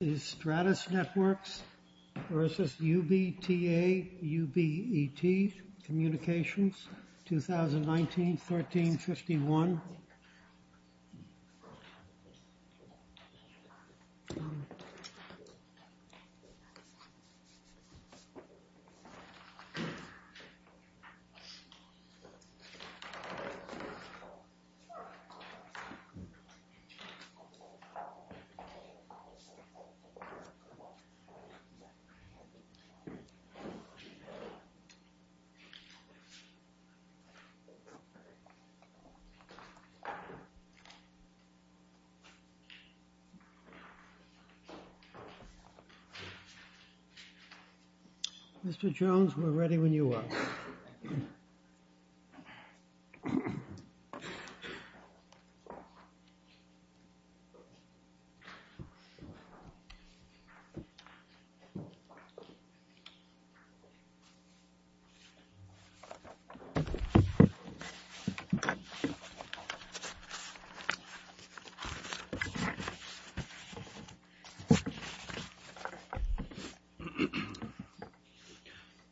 2019-13-51 Mr. Jones, we're ready when you are.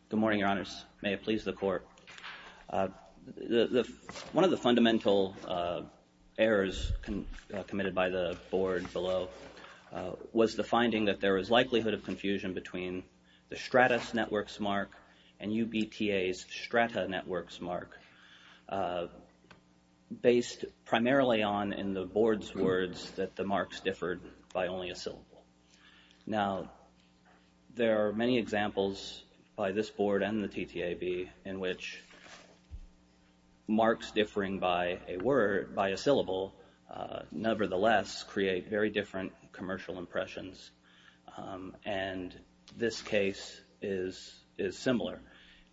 Good morning, Your Honors. May it please the Court. One of the fundamental errors committed by the Board below was the finding that there was likelihood of confusion between the Stratus Networks mark and UBTA's Strata Networks mark, based primarily on, in the Board's words, that the marks differed by only a syllable. Now, there are many examples by this Board and the TTAB in which marks differing by a word, by a syllable, nevertheless create very different commercial impressions, and this case is similar.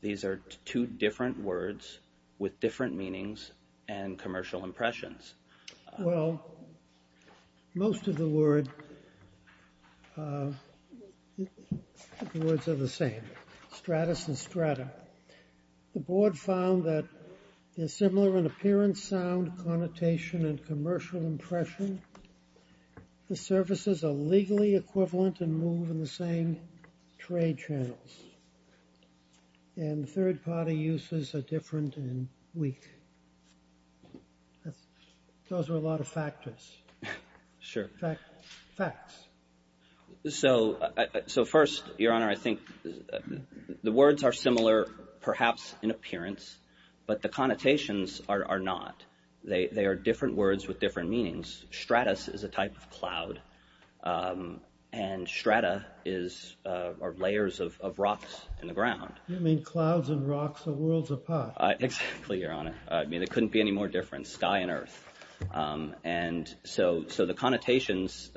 These are two different words with different meanings and commercial impressions. Well, most of the words are the same, Stratus and Strata. The Board found that they're similar in appearance, sound, connotation, and commercial impression. The services are legally equivalent and move in the same trade channels, and third-party uses are different and weak. Those are a lot of factors. Sure. Facts. So, first, Your Honor, I think the words are similar, perhaps, in appearance, but the connotations are not. They are different words with different meanings. Stratus is a type of cloud, and Strata are layers of rocks in the ground. You mean clouds and rocks are worlds apart. Exactly, Your Honor. I mean, there couldn't be any more difference, sky and earth. And so the connotations,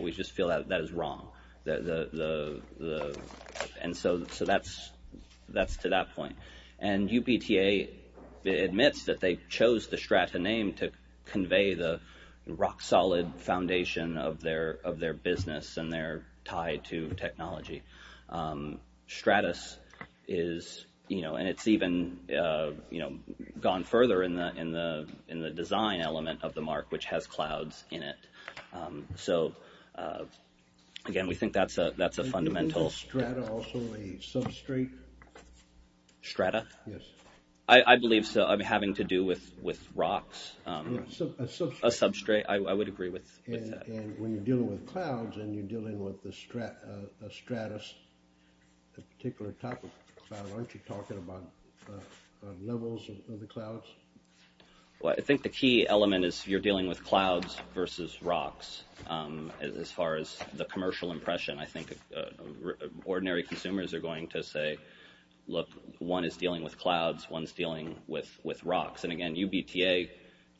we just feel that that is wrong, and so that's to that point. And UBTA admits that they chose the Strata name to convey the rock-solid foundation of their business and their tie to technology. Stratus is, you know, and it's even, you know, gone further in the design element of the mark, which has clouds in it. So again, we think that's a fundamental- Isn't the Strata also a substrate? Strata? Yes. I believe so. I mean, having to do with rocks. A substrate. A substrate. I would agree with that. And when you're dealing with clouds and you're dealing with the Stratus, a particular type of cloud, aren't you talking about levels of the clouds? Well, I think the key element is you're dealing with clouds versus rocks, as far as the commercial impression. I think ordinary consumers are going to say, look, one is dealing with clouds, one's dealing with rocks. And again, UBTA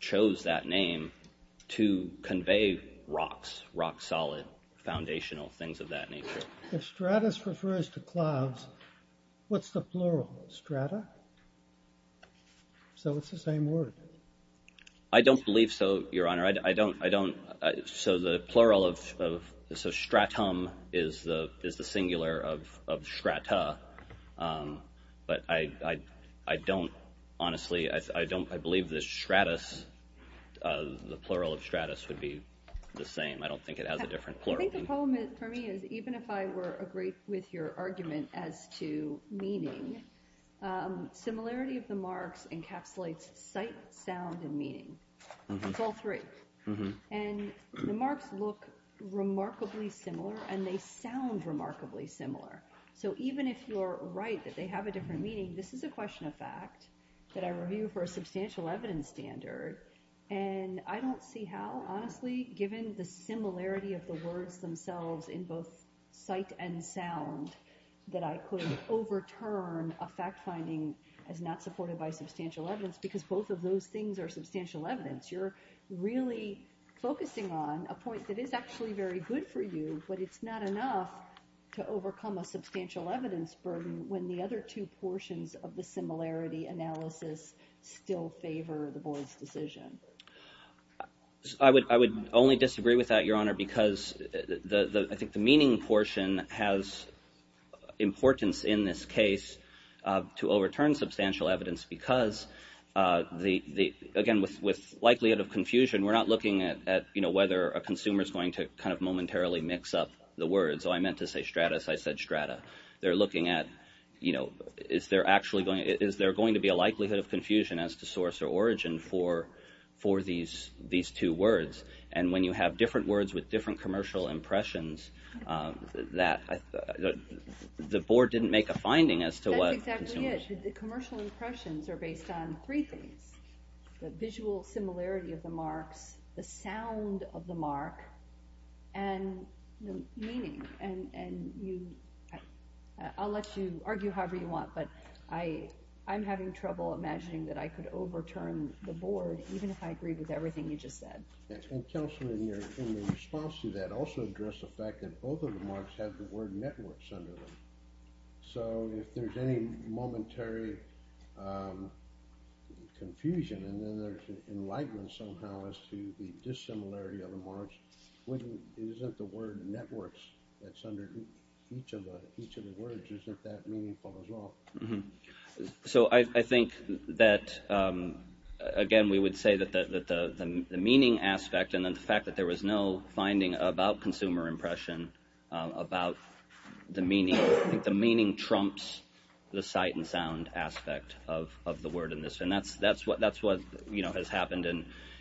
chose that name to convey rocks, rock-solid foundational things of that nature. If Stratus refers to clouds, what's the plural? Strata? So it's the same word. I don't believe so, Your Honor. I don't- So the plural of- So stratum is the singular of strata. But I don't, honestly, I believe the stratus, the plural of stratus would be the same. I don't think it has a different plural. I think the poem, for me, is even if I were to agree with your argument as to meaning, similarity of the marks encapsulates sight, sound, and meaning. It's all three. And the marks look remarkably similar and they sound remarkably similar. So even if you're right that they have a different meaning, this is a question of fact that I review for a substantial evidence standard, and I don't see how, honestly, given the similarity of the words themselves in both sight and sound, that I could overturn a fact finding as not supported by substantial evidence, because both of those things are substantial evidence. You're really focusing on a point that is actually very good for you, but it's not enough to overcome a substantial evidence burden when the other two portions of the similarity analysis still favor the board's decision. I would only disagree with that, Your Honor, because I think the meaning portion has importance in this case to overturn substantial evidence because, again, with likelihood of confusion, we're not looking at whether a consumer is going to momentarily mix up the words. I meant to say stratus. I said strata. They're looking at, you know, is there actually going to be a likelihood of confusion as to source or origin for these two words? And when you have different words with different commercial impressions, the board didn't make a finding as to what consumer... That's exactly it. The commercial impressions are based on three things, the visual similarity of the marks, the sound of the mark, and the meaning. I'll let you argue however you want, but I'm having trouble imagining that I could overturn the board, even if I agree with everything you just said. And, Counselor, in response to that, also address the fact that both of the marks have the word networks under them. So if there's any momentary confusion and then there's an enlightenment somehow as to the dissimilarity of the marks, isn't the word networks that's under each of the words isn't that meaningful as well? So I think that, again, we would say that the meaning aspect and then the fact that there was no finding about consumer impression, about the meaning. I think the meaning trumps the sight and sound aspect of the word in this. And that's what has happened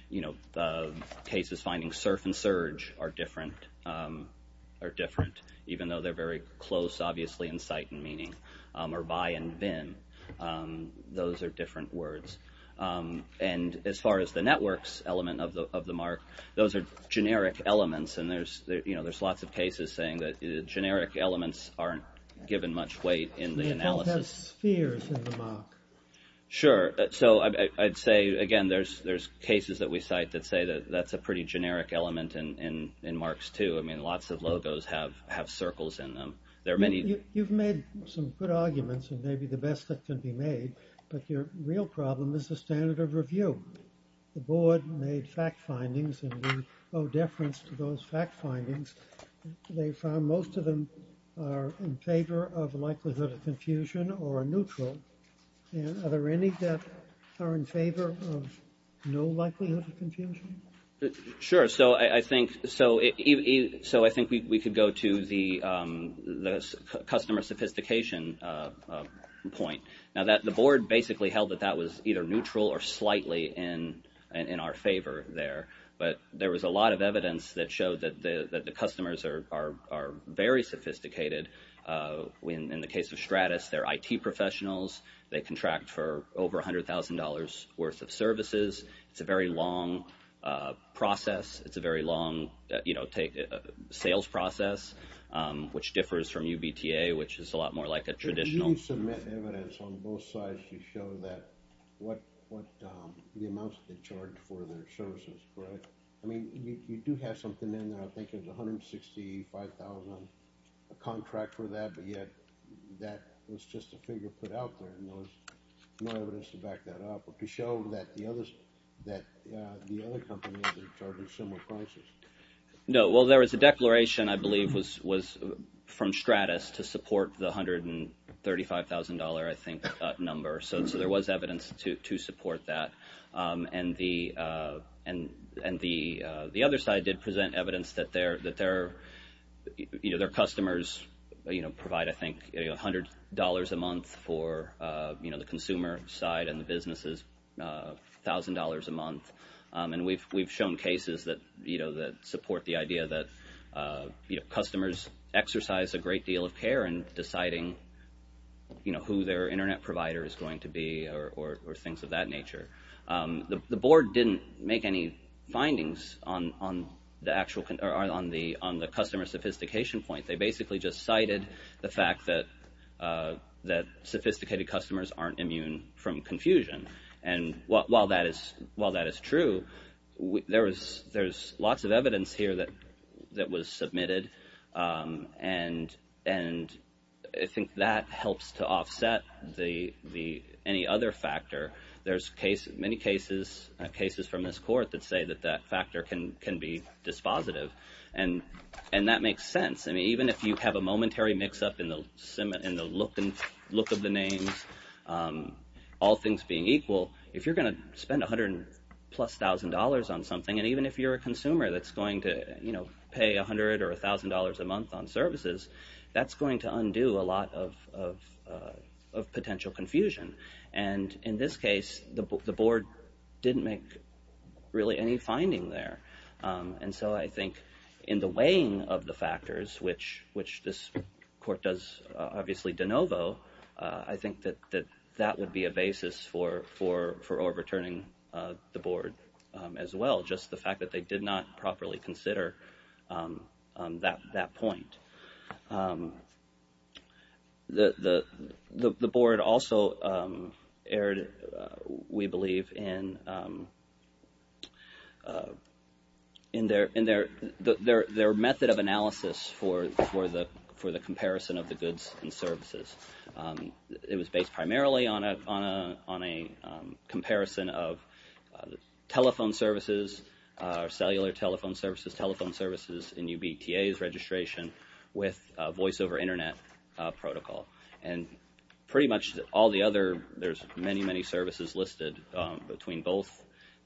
in cases finding surf and surge are different, even though they're very close, obviously, in sight and meaning, or buy and bin. Those are different words. And as far as the networks element of the mark, those are generic elements. And there's lots of cases saying that generic elements aren't given much weight in the analysis. It has spheres in the mark. Sure. So I'd say, again, there's cases that we cite that say that's a pretty generic element in marks, too. I mean, lots of logos have circles in them. You've made some good arguments, and maybe the best that can be made, but your real problem is the standard of review. The board made fact findings, and we owe deference to those fact findings. They found most of them are in favor of likelihood of confusion or neutral. And are there any that are in favor of no likelihood of confusion? Sure. So I think we could go to the customer sophistication point. Now, the board basically held that that was either neutral or slightly in our favor there. But there was a lot of evidence that showed that the customers are very sophisticated. In the case of Stratis, they're IT professionals. They contract for over $100,000 worth of services. It's a very long process. It's a very long sales process, which differs from UBTA, which is a lot more like a traditional. You do submit evidence on both sides to show the amounts they charge for their services, correct? I mean, you do have something in there. I think there's $165,000 contract for that, but yet that was just a figure put out there. There's no evidence to back that up, but to show that the other companies are charging similar prices. No. Well, there was a declaration, I believe, from Stratis to support the $135,000, I think, number. So there was evidence to support that. And the other side did present evidence that their customers provide, I think, $100 a month for the consumer side And we've shown cases that support the idea that customers exercise a great deal of care in deciding who their Internet provider is going to be or things of that nature. The board didn't make any findings on the customer sophistication point. They basically just cited the fact that sophisticated customers aren't immune from confusion. And while that is true, there's lots of evidence here that was submitted. And I think that helps to offset any other factor. There's many cases from this court that say that that factor can be dispositive. And that makes sense. Even if you have a momentary mix-up in the look of the names, all things being equal, if you're going to spend $100,000 plus on something, and even if you're a consumer that's going to pay $100,000 or $1,000 a month on services, that's going to undo a lot of potential confusion. And in this case, the board didn't make really any finding there. And so I think in the weighing of the factors, which this court does obviously de novo, I think that that would be a basis for overturning the board as well, just the fact that they did not properly consider that point. The board also erred, we believe, in their method of analysis for the comparison of the goods and services. It was based primarily on a comparison of telephone services, cellular telephone services, telephone services in UBTA's registration, with voice over internet protocol. And pretty much all the other, there's many, many services listed between both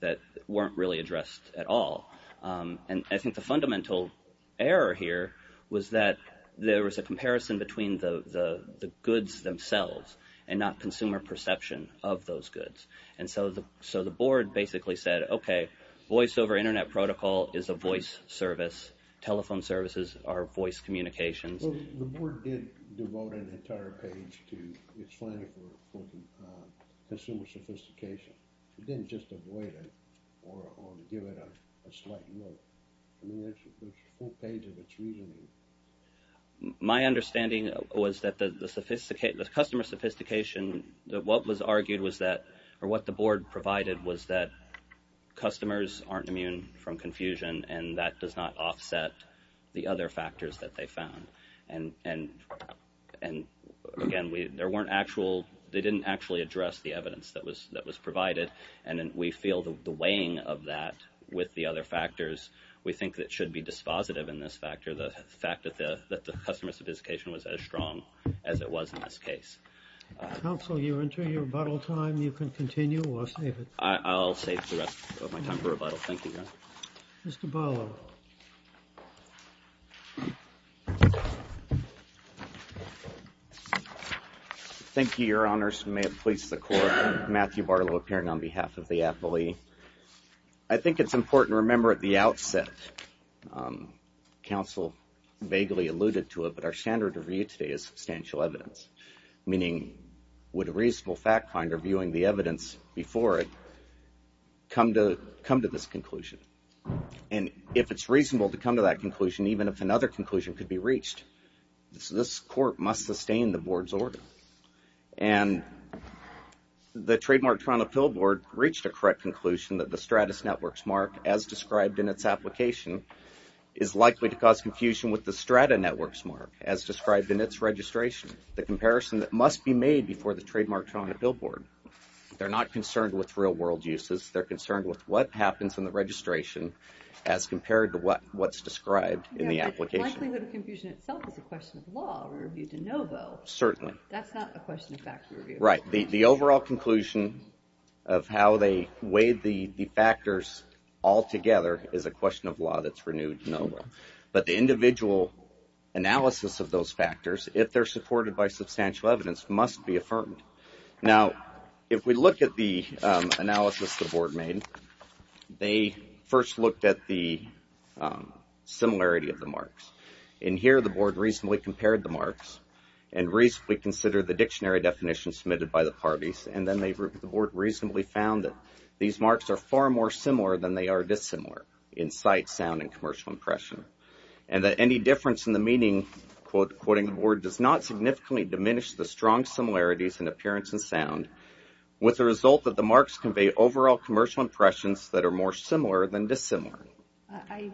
that weren't really addressed at all. And I think the fundamental error here was that there was a comparison between the goods themselves and not consumer perception of those goods. And so the board basically said, okay, voice over internet protocol is a voice service, telephone services are voice communications. The board did devote an entire page to explaining for consumer sophistication. It didn't just avoid it or give it a slight note. I mean, there's a full page of its reasoning. My understanding was that the customer sophistication, what was argued was that, or what the board provided, was that customers aren't immune from confusion and that does not offset the other factors that they found. And again, there weren't actual, they didn't actually address the evidence that was provided and we feel the weighing of that with the other factors, we think that should be dispositive in this factor, the fact that the customer sophistication was as strong as it was in this case. Counsel, you enter your rebuttal time. You can continue or save it. I'll save the rest of my time for rebuttal. Thank you, Your Honor. Mr. Barlow. Thank you, Your Honors. May it please the Court. Matthew Barlow appearing on behalf of the affilee. I think it's important to remember at the outset, counsel vaguely alluded to it, but our standard review today is substantial evidence. Meaning, would a reasonable fact finder, viewing the evidence before it, come to this conclusion? And if it's reasonable to come to that conclusion, even if another conclusion could be reached, this Court must sustain the board's order. And the Trademark Toronto Pill Board reached a correct conclusion that the Stratus Networks Mark, as described in its application, is likely to cause confusion with the Strata Networks Mark, as described in its registration. The comparison that must be made before the Trademark Toronto Pill Board. They're not concerned with real world uses. They're concerned with what happens in the registration as compared to what's described in the application. The likelihood of confusion itself is a question of law. Review de novo. Certainly. That's not a question of fact review. Right. The overall conclusion of how they weighed the factors all together is a question of law that's renewed de novo. But the individual analysis of those factors, if they're supported by substantial evidence, must be affirmed. Now, if we look at the analysis the board made, they first looked at the similarity of the marks. And here the board reasonably compared the marks and reasonably considered the dictionary definition submitted by the parties. And then the board reasonably found that these marks are far more similar than they are dissimilar in sight, sound, and commercial impression. And that any difference in the meaning, quoting the board, does not significantly diminish the strong similarities in appearance and sound with the result that the marks convey overall commercial impressions that are more similar than dissimilar. I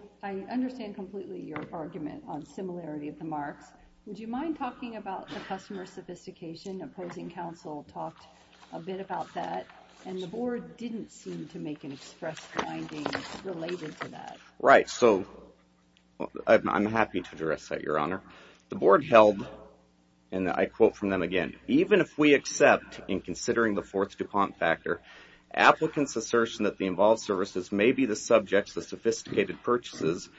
understand completely your argument on similarity of the marks. Would you mind talking about the customer sophistication? Opposing counsel talked a bit about that and the board didn't seem to make an express finding related to that. Right. So, I'm happy to address that, Your Honor. The board held, and I quote from them again, even if we accept in considering the fourth DuPont factor, applicants' assertion that the involved services may be the subjects of sophisticated purchases,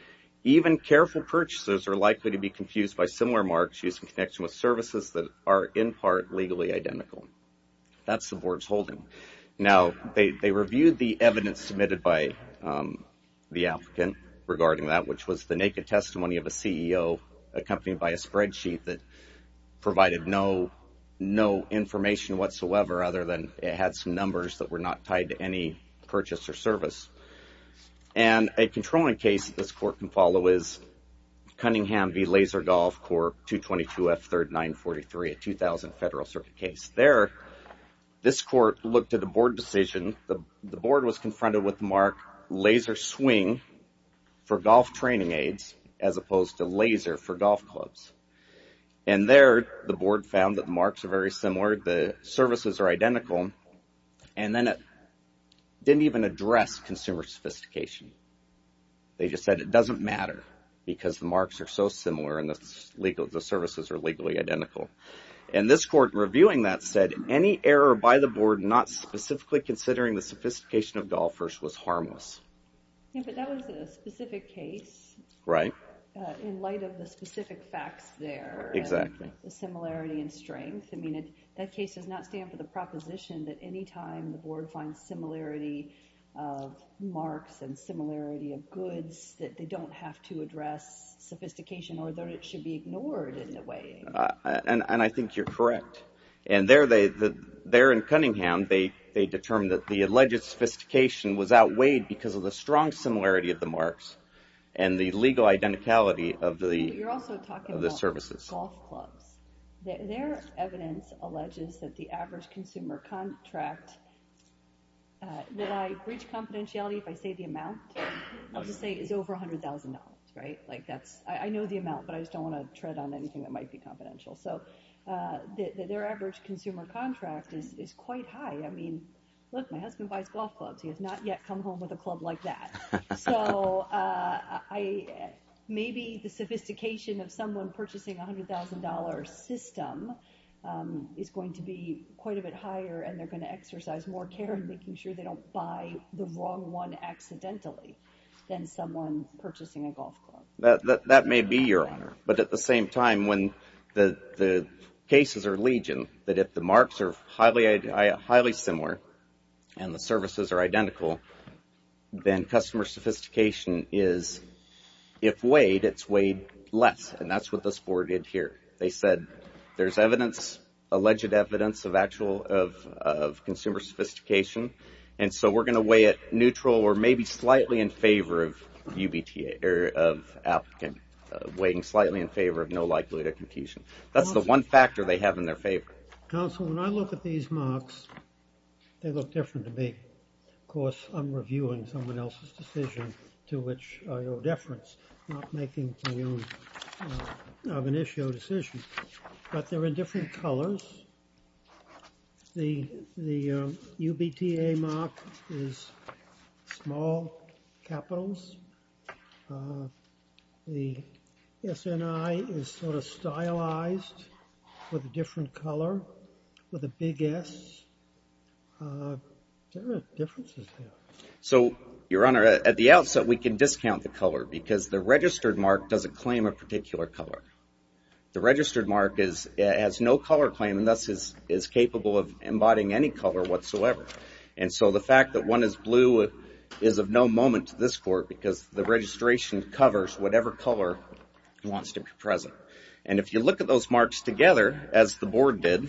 even careful purchasers are likely to be confused by similar marks using connection with services that are in part legally identical. That's the board's holding. Now, they reviewed the evidence submitted by the applicant regarding that, which was the naked testimony of a CEO accompanied by a spreadsheet that provided no information whatsoever other than it had some numbers that were not tied to any purchase or service. And a controlling case this court can follow is Cunningham v. Laser Golf Corp. 222F3943, a 2000 Federal Circuit case. There, this court looked at the board decision. The board was confronted with the mark laser swing for golf training aids as opposed to laser for golf clubs. And there, the board found that the marks are very similar, the services are identical, and then it didn't even address consumer sophistication. They just said it doesn't matter because the marks are so similar and the services are legally identical. And this court reviewing that said, any error by the board not specifically considering the sophistication of golfers was harmless. Yeah, but that was a specific case. Right. In light of the specific facts there. Exactly. The similarity in strength. I mean, that case does not stand for the proposition that any time the board finds similarity of marks and similarity of goods that they don't have to address sophistication or that it should be ignored in a way. And I think you're correct. And there in Cunningham they determined that the alleged sophistication was outweighed because of the strong similarity of the marks and the legal identicality of the services. You're also talking about golf clubs. Their evidence alleges that the average consumer contract that I reach confidentiality if I say the amount I'll just say is over $100,000. Right? I know the amount but I just don't want to tread on anything that might be confidential. So, their average consumer contract is quite high. I mean, look, my husband buys golf clubs he has not yet come home with a club like that. So, maybe the sophistication of someone purchasing a $100,000 system is going to be quite a bit higher and they're going to exercise more care in making sure they don't buy the wrong one accidentally than someone purchasing a golf club. That may be, Your Honor. But at the same time when the cases are legion that if the marks are highly similar and the services are identical then customer sophistication is if weighed it's weighed less. And that's what this board did here. They said there's evidence alleged evidence of consumer sophistication and so we're going to weigh it neutral or maybe slightly in favor of UBTA or of applicant weighing slightly in favor of no likelihood of confusion. That's the one factor they have in their favor. Counsel, when I look at these marks they look different to me. Of course, I'm reviewing someone else's decision to which I owe deference. I'm not making my own of an issue or decision. But they're in different colors. The UBTA mark is small capitals. The SNI is sort of stylized with a different color with a big S. There are differences there. So, Your Honor, at the outset we can discount the color because the registered mark doesn't claim a particular color. The registered mark has no color claim and thus is capable of embodying any color whatsoever. And so the fact that one is blue is of no moment to this Court because the registration covers whatever color wants to be present. And if you look at those marks together as the Board did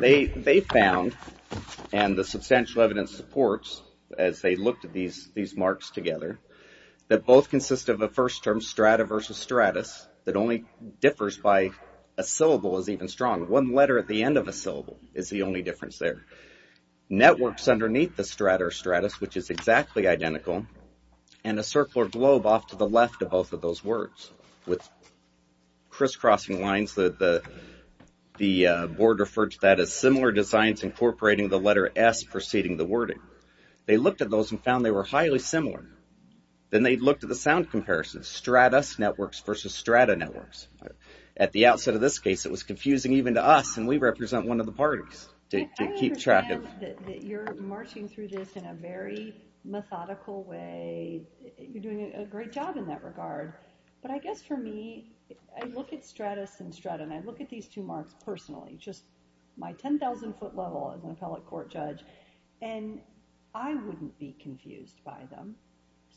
they found and the substantial evidence supports as they looked at these marks together that both consist of a first term strata versus stratus that only differs by a syllable is even strong. One letter at the end of a syllable is the only difference there. Networks underneath the strata or stratus which is exactly identical and a circle or globe off to the left of both of those words with crisscrossing lines that the Board referred to that as similar designs incorporating the letter S preceding the wording. They looked at those and found they were highly similar. Then they looked at the sound comparisons. Stratus networks versus strata networks. At the outset of this case it was confusing even to us and we represent one of the parties to keep track of. I understand that you're marching through this in a very methodical way you're doing a great job in that regard but I guess for me I look at stratus and strata and I look at these two marks personally just my 10,000 foot level as an appellate court judge and I wouldn't be confused by them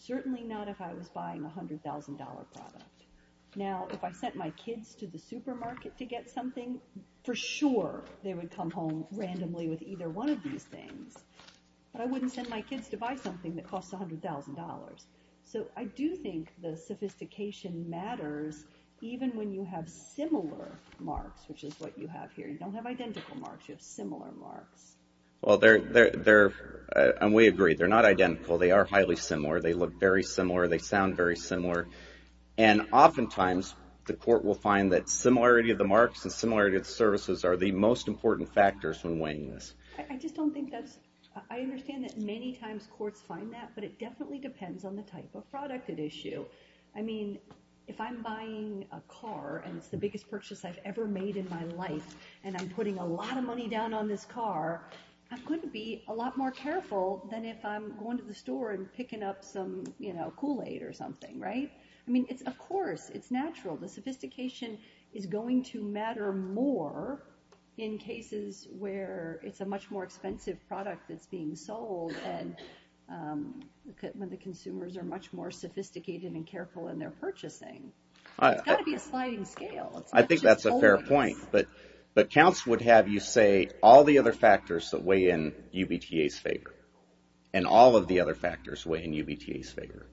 certainly not if I was buying a $100,000 product. Now if I sent my kids to the supermarket to get something for sure they would come home randomly with either one of these things but I wouldn't send my kids to buy something that costs $100,000. So I do think the sophistication matters even when you have similar marks which is what you have here. You don't have identical marks, you have similar marks. Well they're and we agree they're not identical they are highly similar, they look very similar they sound very similar and often times the court will find that similarity of the marks and similarity of the services are the most important factors when weighing this. I just don't think that's I understand that many times courts find that but it definitely depends on the type of product at issue. I mean if I'm buying a car and it's the biggest purchase I've ever made in my life and I'm putting a lot of money down on this car I'm going to be a lot more careful than if I'm going to the store and picking up some Kool-Aid or something, right? I mean, of course, it's natural the sophistication is going to matter more in cases where it's a much more expensive product that's being sold and when the consumers are much more sophisticated and careful in their purchasing It's got to be a sliding scale I think that's a fair point but counts would have you say all the other factors that weigh in UBTA's favor and all of the other factors weigh in UBTA's favor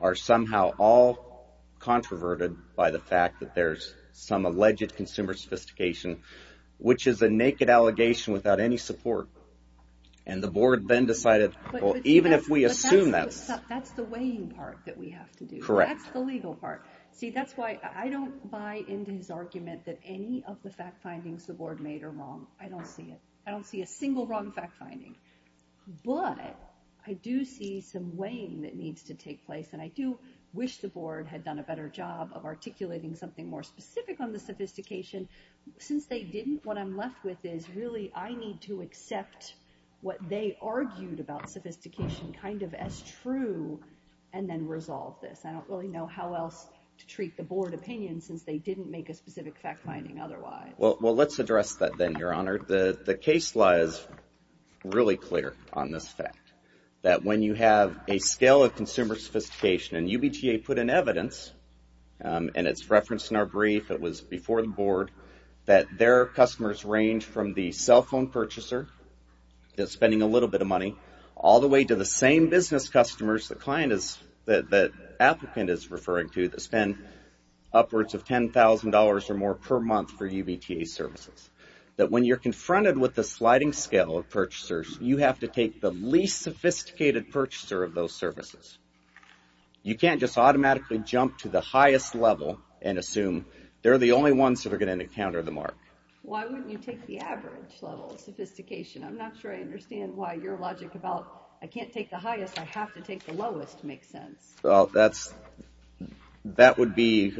are somehow all controverted by the fact that there's some alleged consumer sophistication which is a naked allegation without any support and the board then decided even if we assume that That's the weighing part that we have to do That's the legal part See, that's why I don't buy into his argument that any of the fact findings the board made are wrong. I don't see it I don't see a single wrong fact finding but I do see some weighing that needs to take place and I do wish the board had done a better job of articulating something more specific on the sophistication Since they didn't, what I'm left with is really I need to accept what they argued about sophistication kind of as true and then resolve this I don't really know how else to treat the board opinion since they didn't make a specific fact finding otherwise Well, let's address that then, your honor The case lies really clear on this fact that when you have a scale of consumer sophistication and UBTA put in evidence and it's referenced in our brief, it was before the board that their customers range from the cell phone purchaser that's spending a little bit of money all the way to the same business customers the client is the applicant is referring to that spend upwards of $10,000 or more per month for UBTA services that when you're confronted with the sliding scale of purchasers you have to take the least sophisticated purchaser of those services You can't just automatically jump to the highest level and assume they're the only ones that are going to encounter the mark Why wouldn't you take the average level of sophistication? I'm not sure I understand why your logic about I can't take the highest, I have to take the lowest makes sense That would be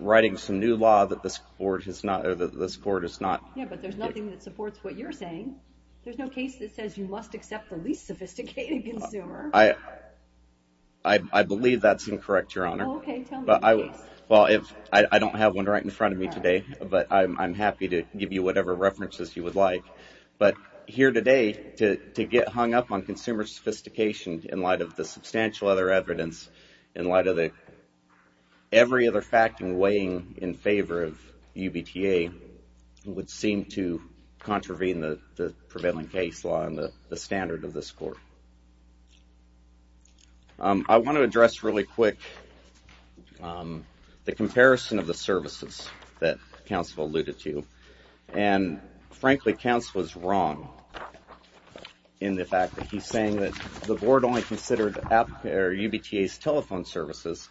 writing some new law that this board has not There's nothing that supports what you're saying There's no case that says you must accept the least sophisticated consumer I believe that's incorrect, your honor I don't have one right in front of me today, but I'm happy to give you whatever references you would like, but here today to get hung up on consumer sophistication in light of the substantial other evidence in light of the every other fact in weighing in favor of UBTA would seem to contravene the prevailing case law and the standard of this court I want to address really quick the comparison of the services that counsel alluded to and frankly counsel is wrong in the fact that he's saying that the board only considered UBTA's telephone services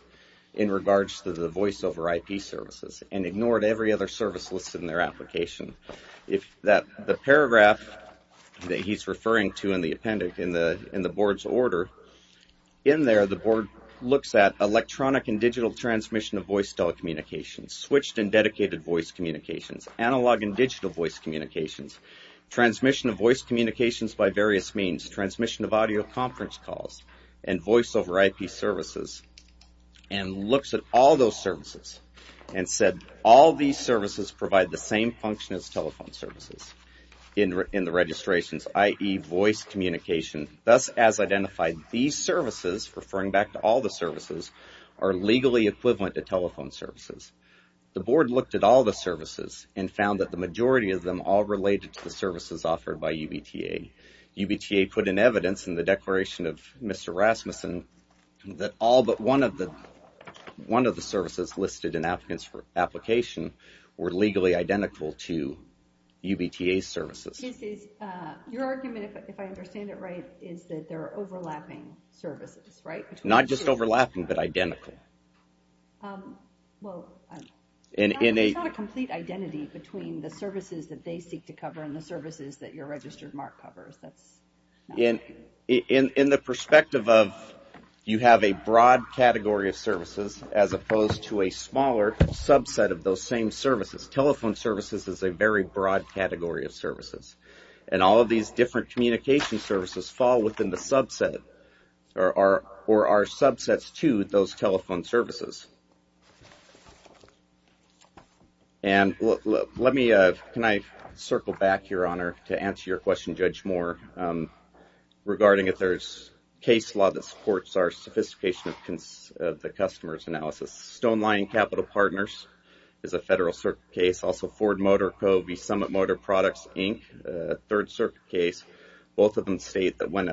in regards to the voice over IP services and ignored every other service listed in their application the paragraph that he's referring to in the appendix in the board's order in there the board looks at electronic and digital transmission of voice telecommunications, switched and dedicated voice communications, analog and digital voice communications, transmission of voice communications by various means transmission of audio conference calls and voice over IP services and looks at all those services and said all these services provide the same function as telephone services in the registrations, i.e. voice communication, thus as identified, these services referring back to all the services are legally equivalent to telephone services the board looked at all the services and found that the majority of them all related to the services offered by UBTA put in evidence in the declaration of Mr. Rasmussen that all but one of the one of the services listed in applicants for application were legally identical to UBTA's services Your argument, if I understand it right is that there are overlapping services right? Not just overlapping but identical It's not a complete identity between the services that they seek to cover and the services that your registered mark covers In the perspective of you have a broad category of services as opposed to a smaller subset of those same services telephone services is a very broad category of services and all of these different communication services fall within the subset or are subsets to those telephone services And let me circle back, Your Honor to answer your question, Judge Moore regarding if there's case law that supports our sophistication of the customer's analysis. StoneLine Capital Partners is a federal circuit case also Ford Motor, Covey Summit Motor Products, Inc. third circuit case, both of them state that when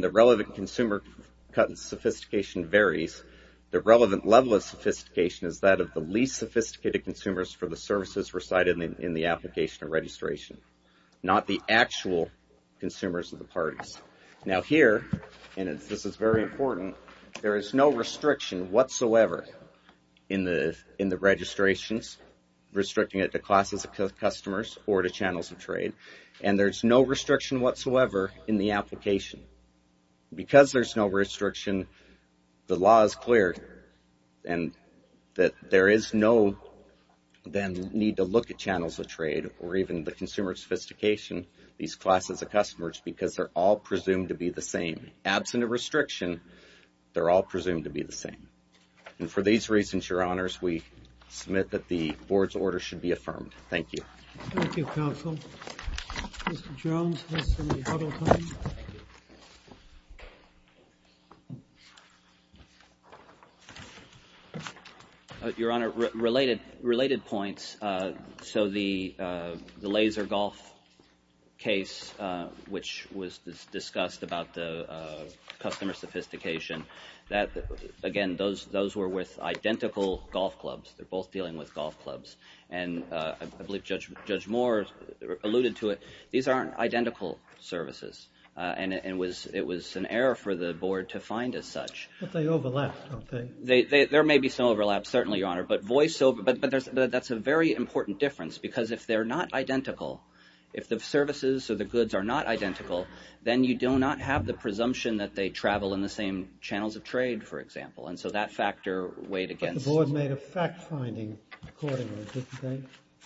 the relevant consumer sophistication varies the relevant level of sophistication is that of the least sophisticated consumers for the services recited in the application of registration not the actual consumers of the parties. Now here and this is very important there is no restriction whatsoever in the registrations, restricting it to classes of customers or to channels of trade and there's no restriction whatsoever in the application because there's no restriction the law is clear and that there is no need to look at channels of trade or even the consumer sophistication these classes of customers because they're all presumed to be the same absent a restriction, they're all presumed to be the same and for these reasons, Your Honors, we submit that the Board's order should be affirmed Thank you. Thank you, Counsel Mr. Jones has any other comments? Your Honor, related points so the laser golf case which was discussed about the customer sophistication again those were with identical golf clubs, they're both dealing with golf clubs and I believe Judge Moore alluded to it, these aren't identical services and it was an error for the Board to find as such. But they overlap, don't they? There may be some overlap, certainly, Your Honor but that's a very important difference because if they're not identical, if the services or the goods are not identical, then you do not have the presumption that they travel in the same channels of trade for example and so that factor weighed against. But the Board made a fact finding accordingly, didn't they?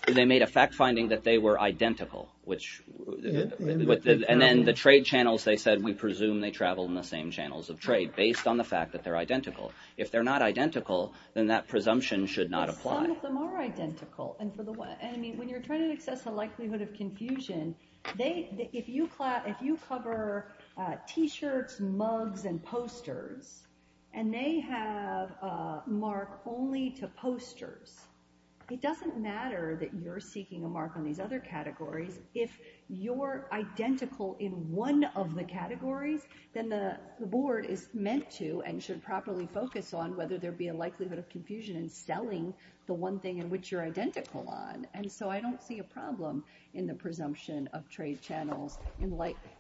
They made a fact finding that they were identical and then the trade channels they said we presume they travel in the same channels of trade based on the fact that they're identical. If they're not identical then that presumption should not apply. Some of them are identical and when you're trying to assess the likelihood of confusion if you cover t-shirts, mugs, and posters and they have a mark only to ensure that you're seeking a mark on these other categories, if you're identical in one of the categories, then the Board is meant to and should properly focus on whether there be a likelihood of confusion in selling the one thing in which you're identical on and so I don't see a problem in the presumption of trade channels.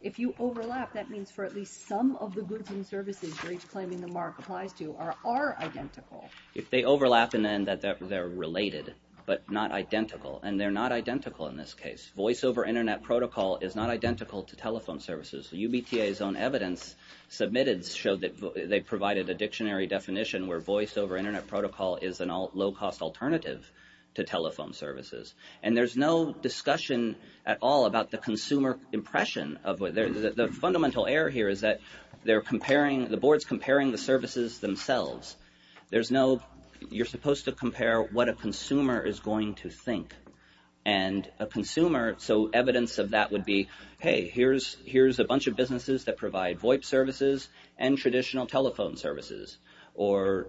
If you overlap, that means for at least some of the goods and services for which claiming the mark applies to are identical. If they overlap and then that they're related but not identical and they're not identical in this case. Voice over internet protocol is not identical to telephone services. UBTA's own evidence submitted showed that they provided a dictionary definition where voice over internet protocol is a low cost alternative to telephone services and there's no discussion at all about the consumer impression of whether, the fundamental error here is that they're comparing, the Board's comparing the services themselves. There's no, you're supposed to compare what a consumer is going to think and a consumer, so evidence of that would be, hey, here's a bunch of businesses that provide VoIP services and traditional telephone services or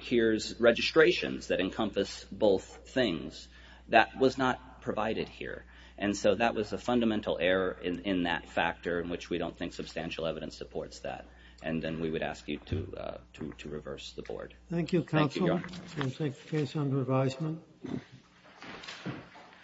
here's registrations that encompass both things. That was not provided here and so that was a fundamental error in that factor in which we don't think substantial evidence supports that and then we would ask you to reverse the Board. Thank you counsel. We'll take the case under advisement.